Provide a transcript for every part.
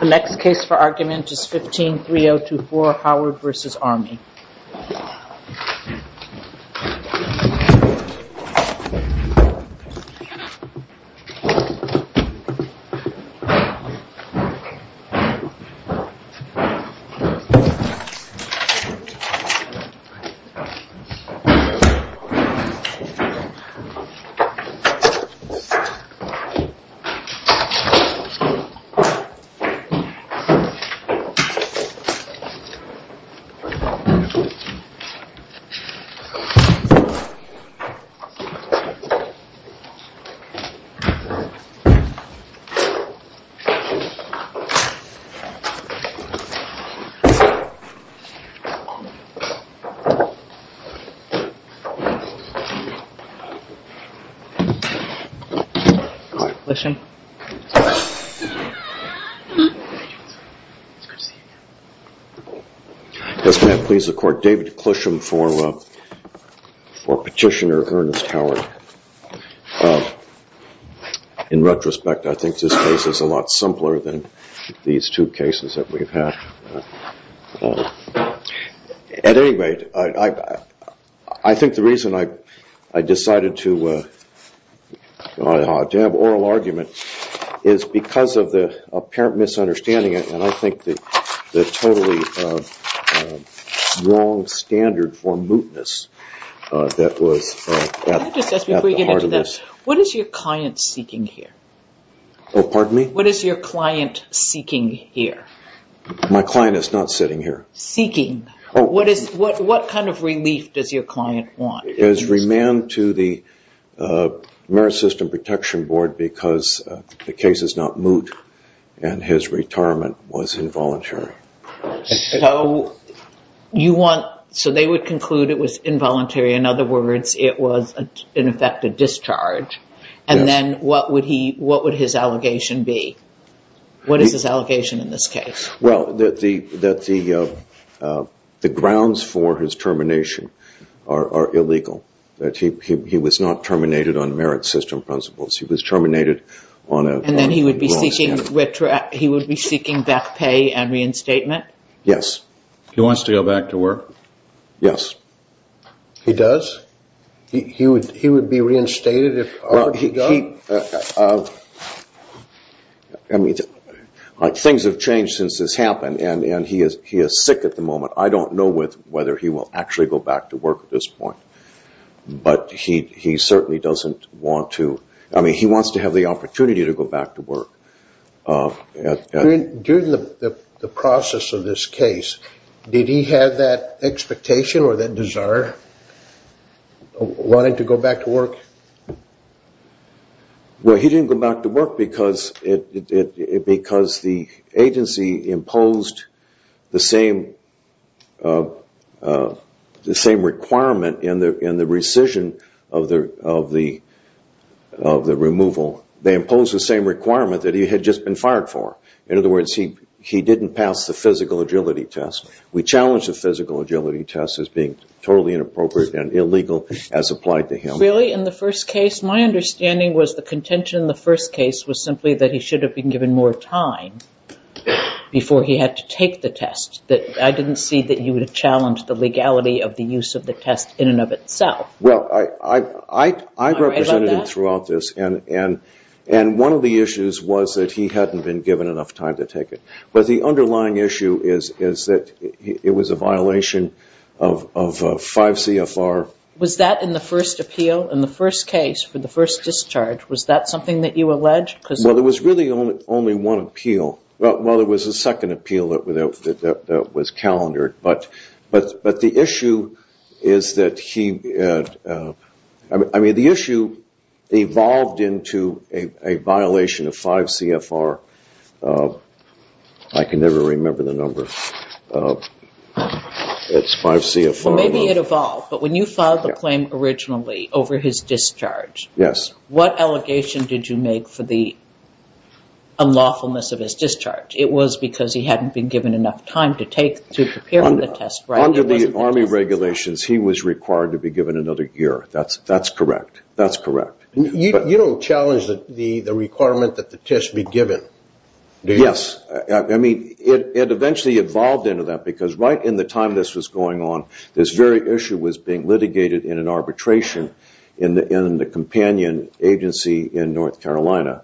The next case for argument is 15-3024 Howard v. Army The next case for argument is 15-3024 Howard v. Army David Clusham for Petitioner Ernest Howard. In retrospect, I think this case is a lot simpler than these two cases that we've had. At any rate, I think the reason I decided to have oral argument is because of the apparent misunderstanding and I think the totally wrong standard for mootness that was at the heart of this. What is your client seeking here? Pardon me? What is your client seeking here? My client is not sitting here. Seeking? What kind of relief does your client want? His remand to the Marist System Protection Board because the case is not moot and his retirement was involuntary. So they would conclude it was involuntary, in other words, it was in effect a discharge and then what would his allegation be? What is his allegation in this case? Well, that the grounds for his termination are illegal, that he was not terminated on merit system principles, he was terminated on a wrong standard. And then he would be seeking back pay and reinstatement? Yes. He wants to go back to work? Yes. He does? He would be reinstated? Things have changed since this happened and he is sick at the moment. I don't know whether he will actually go back to work at this point. But he certainly doesn't want to. I mean, he wants to have the opportunity to go back to work. During the process of this case, did he have that expectation or that desire, wanting to go back to work? Well, he didn't go back to work because the agency imposed the same requirement in the rescission of the removal. They imposed the same requirement that he had just been fired for. In other words, he didn't pass the physical agility test. We challenged the physical agility test as being totally inappropriate and illegal as applied to him. Really? In the first case? My understanding was the contention in the first case was simply that he should have been given more time before he had to take the test. I didn't see that you would challenge the legality of the use of the test in and of itself. Well, I represented him throughout this and one of the issues was that he hadn't been given enough time to take it. But the underlying issue is that it was a violation of 5 CFR. Was that in the first appeal, in the first case, for the first discharge, was that something that you alleged? Well, there was really only one appeal. Well, there was a second appeal that was calendared, but the issue is that he – I mean, the issue evolved into a violation of 5 CFR. I can never remember the number. It's 5 CFR. Maybe it evolved, but when you filed the claim originally over his discharge, what allegation did you make for the unlawfulness of his discharge? It was because he hadn't been given enough time to prepare for the test. Under the Army regulations, he was required to be given another year. That's correct. That's correct. You don't challenge the requirement that the test be given, do you? Yes. I mean, it eventually evolved into that because right in the time this was going on, this very issue was being litigated in an arbitration in the companion agency in North Carolina.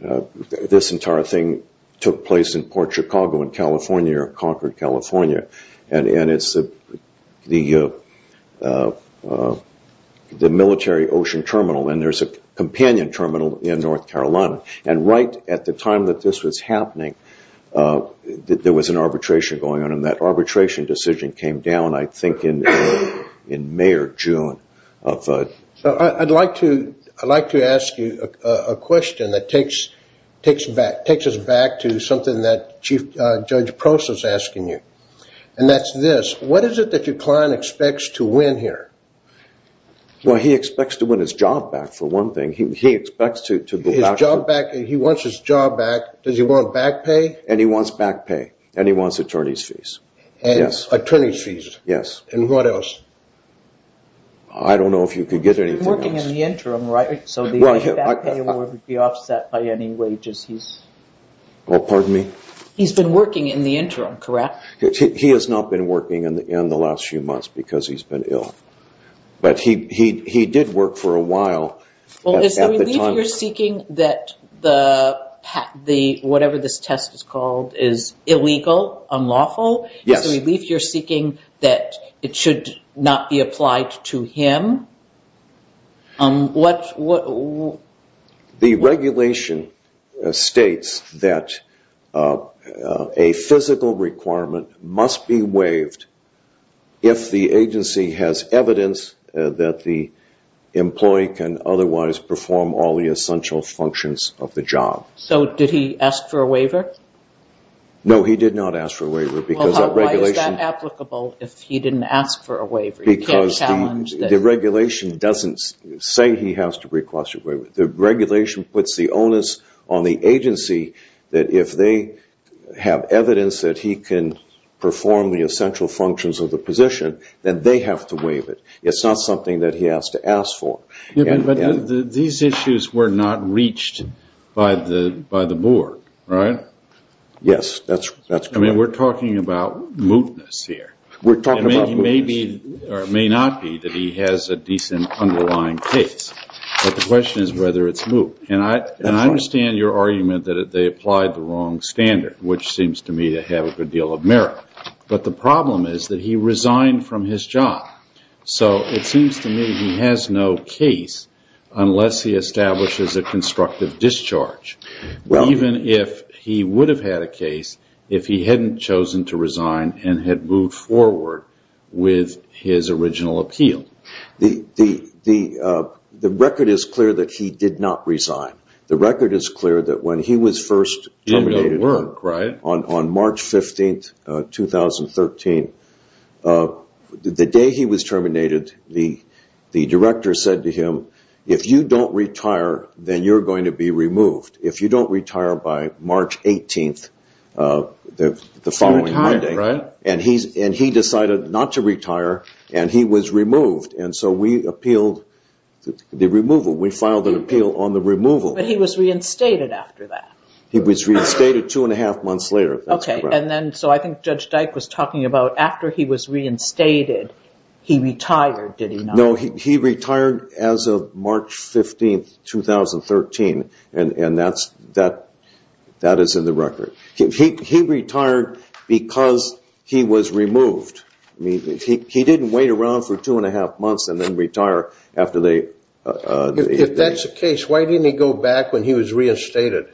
This entire thing took place in Port Chicago in California, or Concord, California. And it's the military ocean terminal, and there's a companion terminal in North Carolina. And right at the time that this was happening, there was an arbitration going on. When that arbitration decision came down, I think in May or June. I'd like to ask you a question that takes us back to something that Chief Judge Prosser is asking you, and that's this. What is it that your client expects to win here? Well, he expects to win his job back, for one thing. His job back? He wants his job back? Does he want back pay? And he wants back pay, and he wants attorney's fees. And attorney's fees? Yes. And what else? I don't know if you could get anything else. He's working in the interim, right? So the back pay would be offset by any wages he's... Well, pardon me? He's been working in the interim, correct? He has not been working in the last few months because he's been ill. But he did work for a while. Well, is the relief you're seeking that whatever this test is called is illegal, unlawful? Yes. Is the relief you're seeking that it should not be applied to him? The regulation states that a physical requirement must be waived if the agency has evidence that the employee can otherwise perform all the essential functions of the job. So did he ask for a waiver? No, he did not ask for a waiver because that regulation... Well, why is that applicable if he didn't ask for a waiver? Because the regulation doesn't say he has to request a waiver. The regulation puts the onus on the agency that if they have evidence that he can perform the essential functions of the position, then they have to waive it. It's not something that he has to ask for. But these issues were not reached by the board, right? Yes, that's correct. I mean, we're talking about mootness here. It may not be that he has a decent underlying case, but the question is whether it's moot. And I understand your argument that they applied the wrong standard, which seems to me to have a good deal of merit. But the problem is that he resigned from his job. So it seems to me he has no case unless he establishes a constructive discharge. Even if he would have had a case if he hadn't chosen to resign and had moved forward with his original appeal. The record is clear that he did not resign. The record is clear that when he was first terminated on March 15, 2013, the day he was terminated, the director said to him, if you don't retire, then you're going to be removed. If you don't retire by March 18, the following Monday. And he decided not to retire, and he was removed. And so we appealed the removal. We filed an appeal on the removal. But he was reinstated after that. He was reinstated two and a half months later. Okay. And then, so I think Judge Dyke was talking about after he was reinstated, he retired, did he not? No, he retired as of March 15, 2013. And that is in the record. He retired because he was removed. He didn't wait around for two and a half months and then retire after they – If that's the case, why didn't he go back when he was reinstated?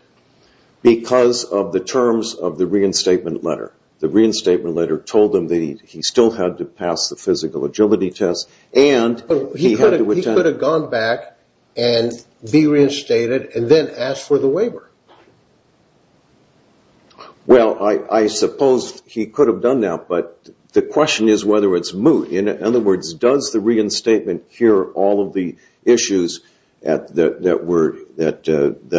Because of the terms of the reinstatement letter. The reinstatement letter told him that he still had to pass the physical agility test. But he could have gone back and be reinstated and then asked for the waiver. Well, I suppose he could have done that, but the question is whether it's moot. In other words, does the reinstatement cure all of the issues that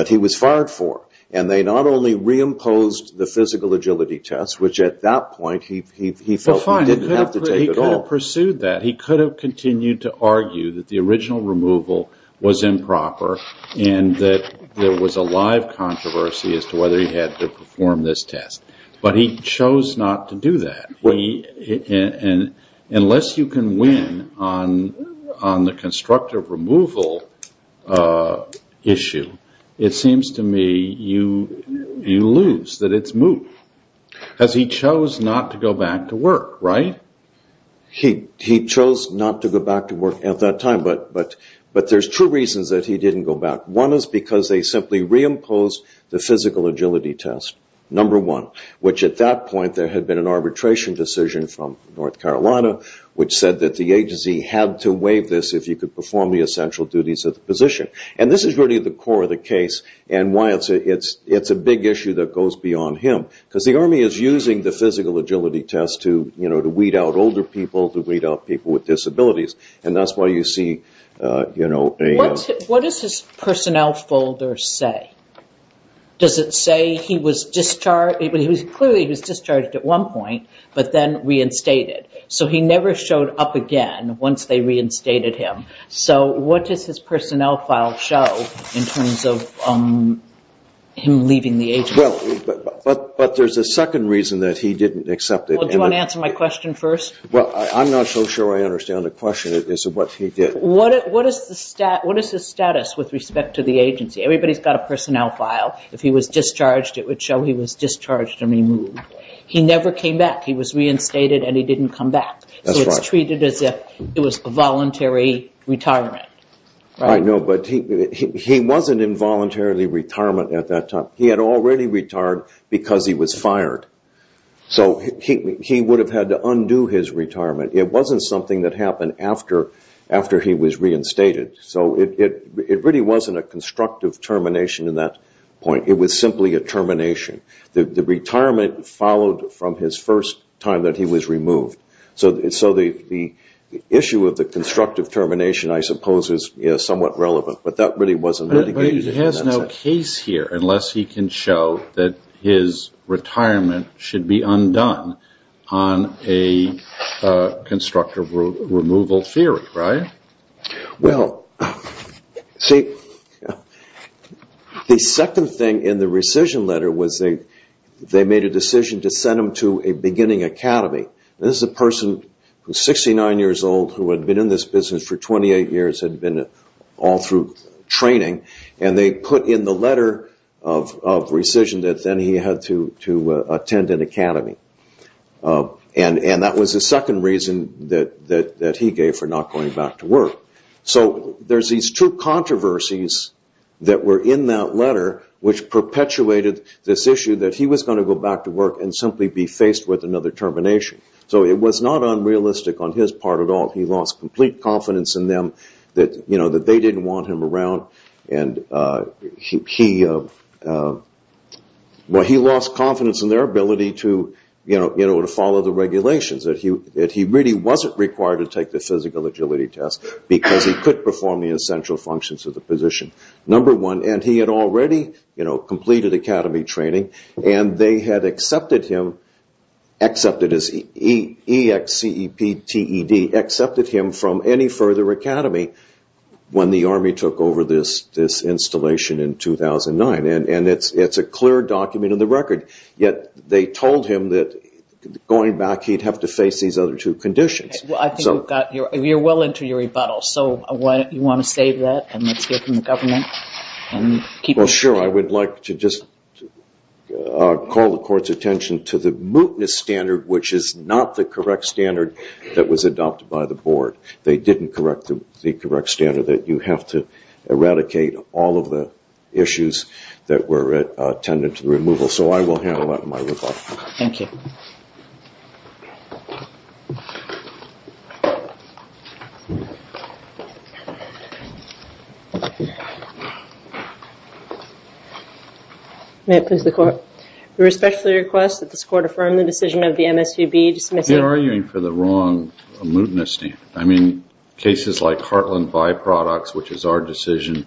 he was fired for? And they not only reimposed the physical agility test, which at that point he felt he didn't have to take at all. He could have pursued that. He could have continued to argue that the original removal was improper and that there was a live controversy as to whether he had to perform this test. But he chose not to do that. Unless you can win on the constructive removal issue, it seems to me you lose, that it's moot. Because he chose not to go back to work, right? He chose not to go back to work at that time, but there's two reasons that he didn't go back. One is because they simply reimposed the physical agility test, number one, which at that point there had been an arbitration decision from North Carolina which said that the agency had to waive this if you could perform the essential duties of the position. And this is really the core of the case and why it's a big issue that goes beyond him. Because the Army is using the physical agility test to weed out older people, to weed out people with disabilities. And that's why you see, you know... What does his personnel folder say? Does it say he was discharged? Clearly he was discharged at one point, but then reinstated. So he never showed up again once they reinstated him. So what does his personnel file show in terms of him leaving the agency? Well, but there's a second reason that he didn't accept it. Well, do you want to answer my question first? Well, I'm not so sure I understand the question as to what he did. What is his status with respect to the agency? Everybody's got a personnel file. If he was discharged, it would show he was discharged and removed. He never came back. He was reinstated and he didn't come back. So it's treated as if it was a voluntary retirement. I know, but he wasn't in voluntary retirement at that time. He had already retired because he was fired. So he would have had to undo his retirement. It wasn't something that happened after he was reinstated. So it really wasn't a constructive termination at that point. It was simply a termination. The retirement followed from his first time that he was removed. So the issue of the constructive termination, I suppose, is somewhat relevant. But that really wasn't mitigated. But he has no case here unless he can show that his retirement should be undone on a constructive removal theory, right? Well, see, the second thing in the rescission letter was they made a decision to send him to a beginning academy. This is a person who is 69 years old who had been in this business for 28 years, had been all through training. And they put in the letter of rescission that then he had to attend an academy. And that was the second reason that he gave for not going back to work. So there's these two controversies that were in that letter, which perpetuated this issue that he was going to go back to work and simply be faced with another termination. So it was not unrealistic on his part at all. He lost complete confidence in them that they didn't want him around. And he lost confidence in their ability to follow the regulations, that he really wasn't required to take the physical agility test because he could perform the essential functions of the position. And he had already completed academy training. And they had accepted him as EXCEPTED, accepted him from any further academy when the Army took over this installation in 2009. And it's a clear document in the record. Yet they told him that going back he'd have to face these other two conditions. You're well into your rebuttal. So you want to save that and let's hear from the government? Well, sure. I would like to just call the Court's attention to the mootness standard, which is not the correct standard that was adopted by the Board. They didn't correct the correct standard that you have to eradicate all of the issues that were tended to removal. So I will handle that in my rebuttal. Thank you. Thank you. May it please the Court. We respectfully request that this Court affirm the decision of the MSUB dismissal. You're arguing for the wrong mootness standard. I mean, cases like Heartland byproducts, which is our decision,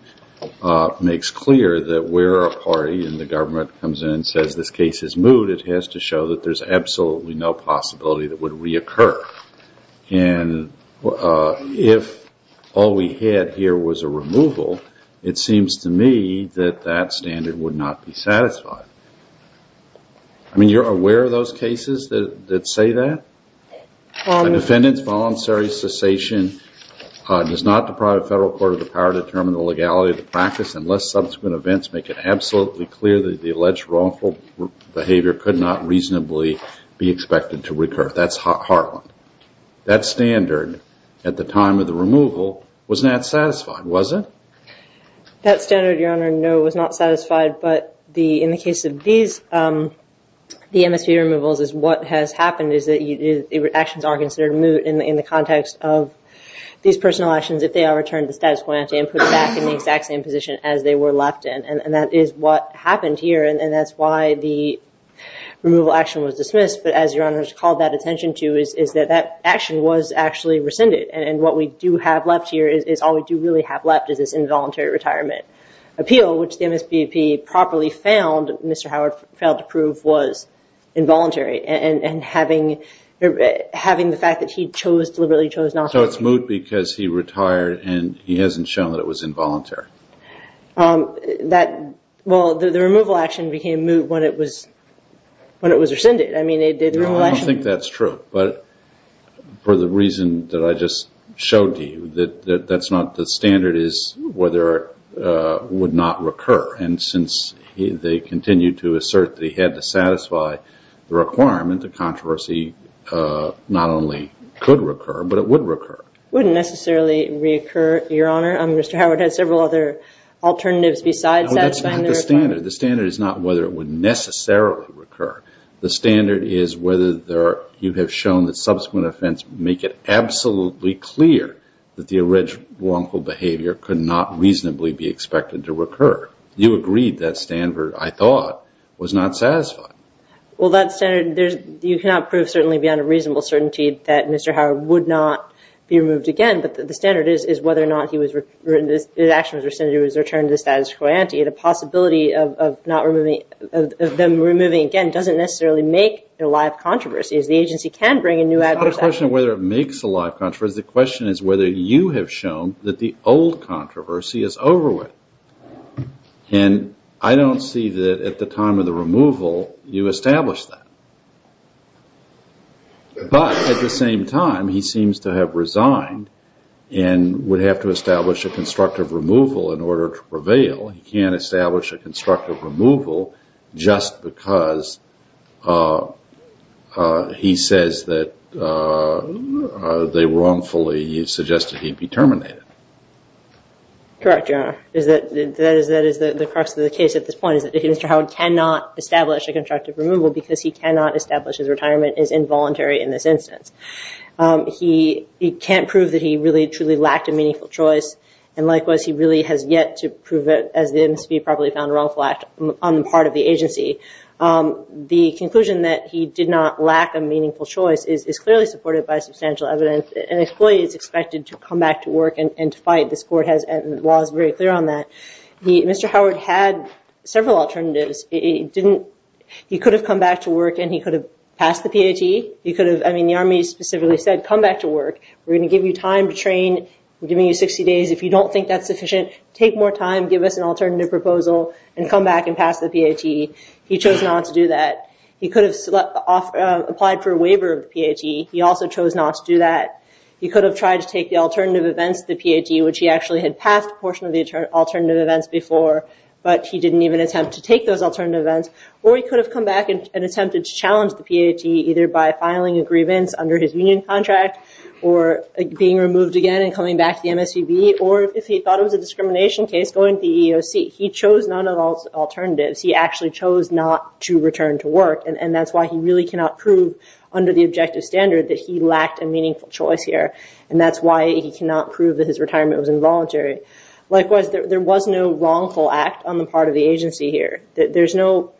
makes clear that where a party in the government comes in and says this case is moot, it has to show that there's absolutely no possibility that it would reoccur. And if all we had here was a removal, it seems to me that that standard would not be satisfied. I mean, you're aware of those cases that say that? Defendant's voluntary cessation does not deprive a federal court of the power to determine the legality of the practice unless subsequent events make it absolutely clear that the alleged wrongful behavior could not reasonably be expected to recur. That's Heartland. That standard at the time of the removal was not satisfied, was it? That standard, Your Honor, no, was not satisfied. But in the case of these, the MSUB removals, what has happened is that actions are considered moot in the context of these personal actions if they are returned to status quo ante and put back in the exact same position as they were left in. And that is what happened here, and that's why the removal action was dismissed. But as Your Honor has called that attention to, is that that action was actually rescinded. And what we do have left here is all we do really have left is this involuntary retirement appeal, which the MSBP properly found Mr. Howard failed to prove was involuntary. And having the fact that he deliberately chose not to. So it's moot because he retired and he hasn't shown that it was involuntary. Well, the removal action became moot when it was rescinded. I don't think that's true, but for the reason that I just showed to you, that's not the standard is whether it would not recur. And since they continued to assert that he had to satisfy the requirement, the controversy not only could recur, but it would recur. It wouldn't necessarily reoccur, Your Honor. Mr. Howard had several other alternatives besides satisfying the requirement. That's not the standard. The standard is not whether it would necessarily recur. The standard is whether you have shown that subsequent offense make it absolutely clear that the original wrongful behavior could not reasonably be expected to recur. You agreed that standard, I thought, was not satisfied. Well, that standard, you cannot prove certainly beyond a reasonable certainty that Mr. Howard would not be removed again, but the standard is whether or not his action was rescinded or he was returned to the status quo ante. The possibility of them removing again doesn't necessarily make it a live controversy, as the agency can bring a new adverse action. It's not a question of whether it makes a live controversy. The question is whether you have shown that the old controversy is over with. And I don't see that at the time of the removal you established that. But at the same time, he seems to have resigned and would have to establish a constructive removal in order to prevail. He can't establish a constructive removal just because he says that they wrongfully suggested he be terminated. Correct, Your Honor. That is the crux of the case at this point, is that Mr. Howard cannot establish a constructive removal because he cannot establish his retirement is involuntary in this instance. He can't prove that he really truly lacked a meaningful choice, and likewise he really has yet to prove it as the MSP probably found a wrongful act on the part of the agency. The conclusion that he did not lack a meaningful choice is clearly supported by substantial evidence. An employee is expected to come back to work and to fight. This court has laws very clear on that. Mr. Howard had several alternatives. He could have come back to work and he could have passed the PAT. The Army specifically said, come back to work. We're going to give you time to train. We're giving you 60 days. If you don't think that's sufficient, take more time. Give us an alternative proposal and come back and pass the PAT. He chose not to do that. He could have applied for a waiver of the PAT. He also chose not to do that. He could have tried to take the alternative events to the PAT, which he actually had passed a portion of the alternative events before, but he didn't even attempt to take those alternative events. Or he could have come back and attempted to challenge the PAT, either by filing a grievance under his union contract or being removed again and coming back to the MSPB, or if he thought it was a discrimination case, going to the EEOC. He chose none of those alternatives. He actually chose not to return to work, and that's why he really cannot prove under the objective standard that he lacked a meaningful choice here, and that's why he cannot prove that his retirement was involuntary. Likewise, there was no wrongful act on the part of the agency here. There's no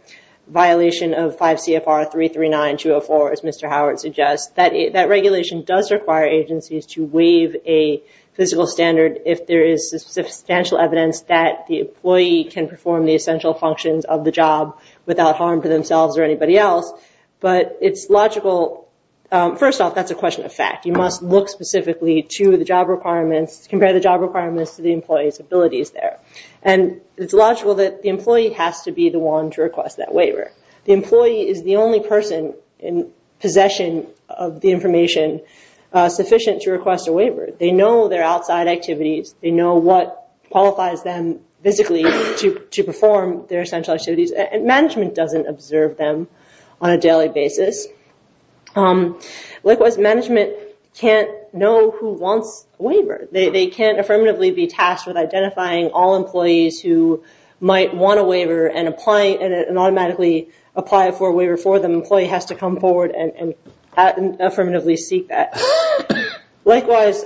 violation of 5 CFR 339-204, as Mr. Howard suggests. That regulation does require agencies to waive a physical standard if there is substantial evidence that the employee can perform the essential functions of the job without harm to themselves or anybody else, but it's logical. First off, that's a question of fact. You must look specifically to the job requirements, compare the job requirements to the employee's abilities there, and it's logical that the employee has to be the one to request that waiver. The employee is the only person in possession of the information sufficient to request a waiver. They know their outside activities. They know what qualifies them physically to perform their essential activities, and management doesn't observe them on a daily basis. Likewise, management can't know who wants a waiver. They can't affirmatively be tasked with identifying all employees who might want a waiver and automatically apply for a waiver for them. The employee has to come forward and affirmatively seek that. Likewise,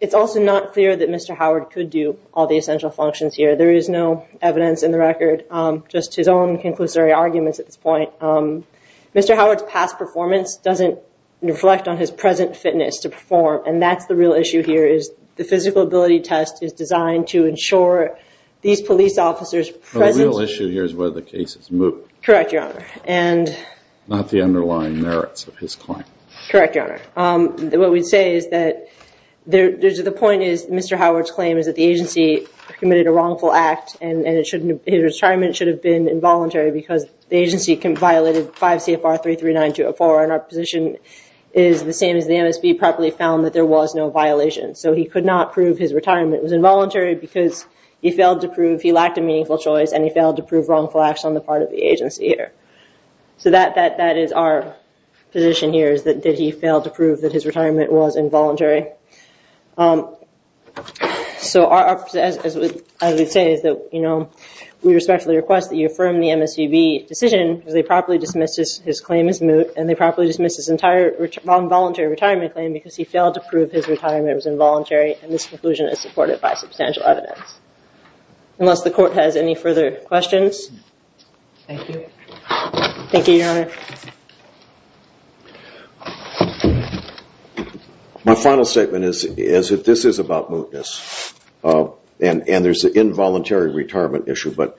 it's also not clear that Mr. Howard could do all the essential functions here. There is no evidence in the record, just his own conclusory arguments at this point. Mr. Howard's past performance doesn't reflect on his present fitness to perform, and that's the real issue here is the physical ability test is designed to ensure these police officers present. The real issue here is whether the case is moot. Correct, Your Honor. Not the underlying merits of his claim. Correct, Your Honor. What we'd say is that the point is Mr. Howard's claim is that the agency committed a wrongful act, and his retirement should have been involuntary because the agency violated 5 CFR 339204, and our position is the same as the MSB properly found that there was no violation. So he could not prove his retirement was involuntary because he failed to prove he lacked a meaningful choice, and he failed to prove wrongful acts on the part of the agency here. So that is our position here is that did he fail to prove that his retirement was involuntary. So as we say, we respectfully request that you affirm the MSVB decision because they properly dismissed his claim as moot, and they properly dismissed his entire wrong voluntary retirement claim because he failed to prove his retirement was involuntary, and this conclusion is supported by substantial evidence. Unless the court has any further questions. Thank you. Thank you, Your Honor. My final statement is that this is about mootness, and there's an involuntary retirement issue, but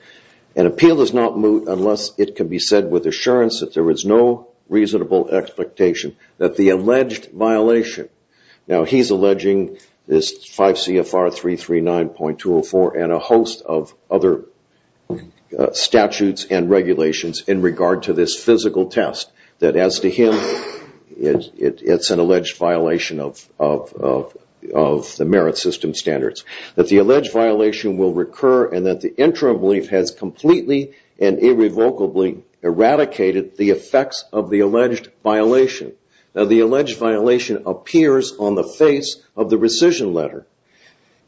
an appeal is not moot unless it can be said with assurance that there is no reasonable expectation that the alleged violation. Now, he's alleging this 5 CFR 339.204 and a host of other statutes and regulations in regard to this physical test that as to him, it's an alleged violation of the merit system standards. That the alleged violation will recur and that the interim belief has completely and irrevocably eradicated the effects of the alleged violation. Now, the alleged violation appears on the face of the rescission letter,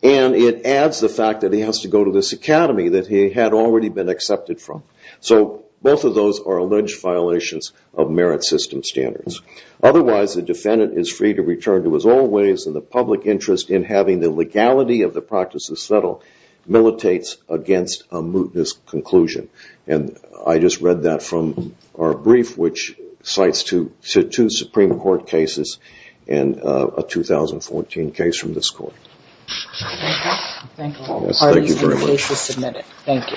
and it adds the fact that he has to go to this academy that he had already been accepted from. So both of those are alleged violations of merit system standards. Otherwise, the defendant is free to return to his old ways, and the public interest in having the legality of the practices settled militates against a mootness conclusion. And I just read that from our brief, which cites two Supreme Court cases and a 2014 case from this court. Thank you very much. Thank you.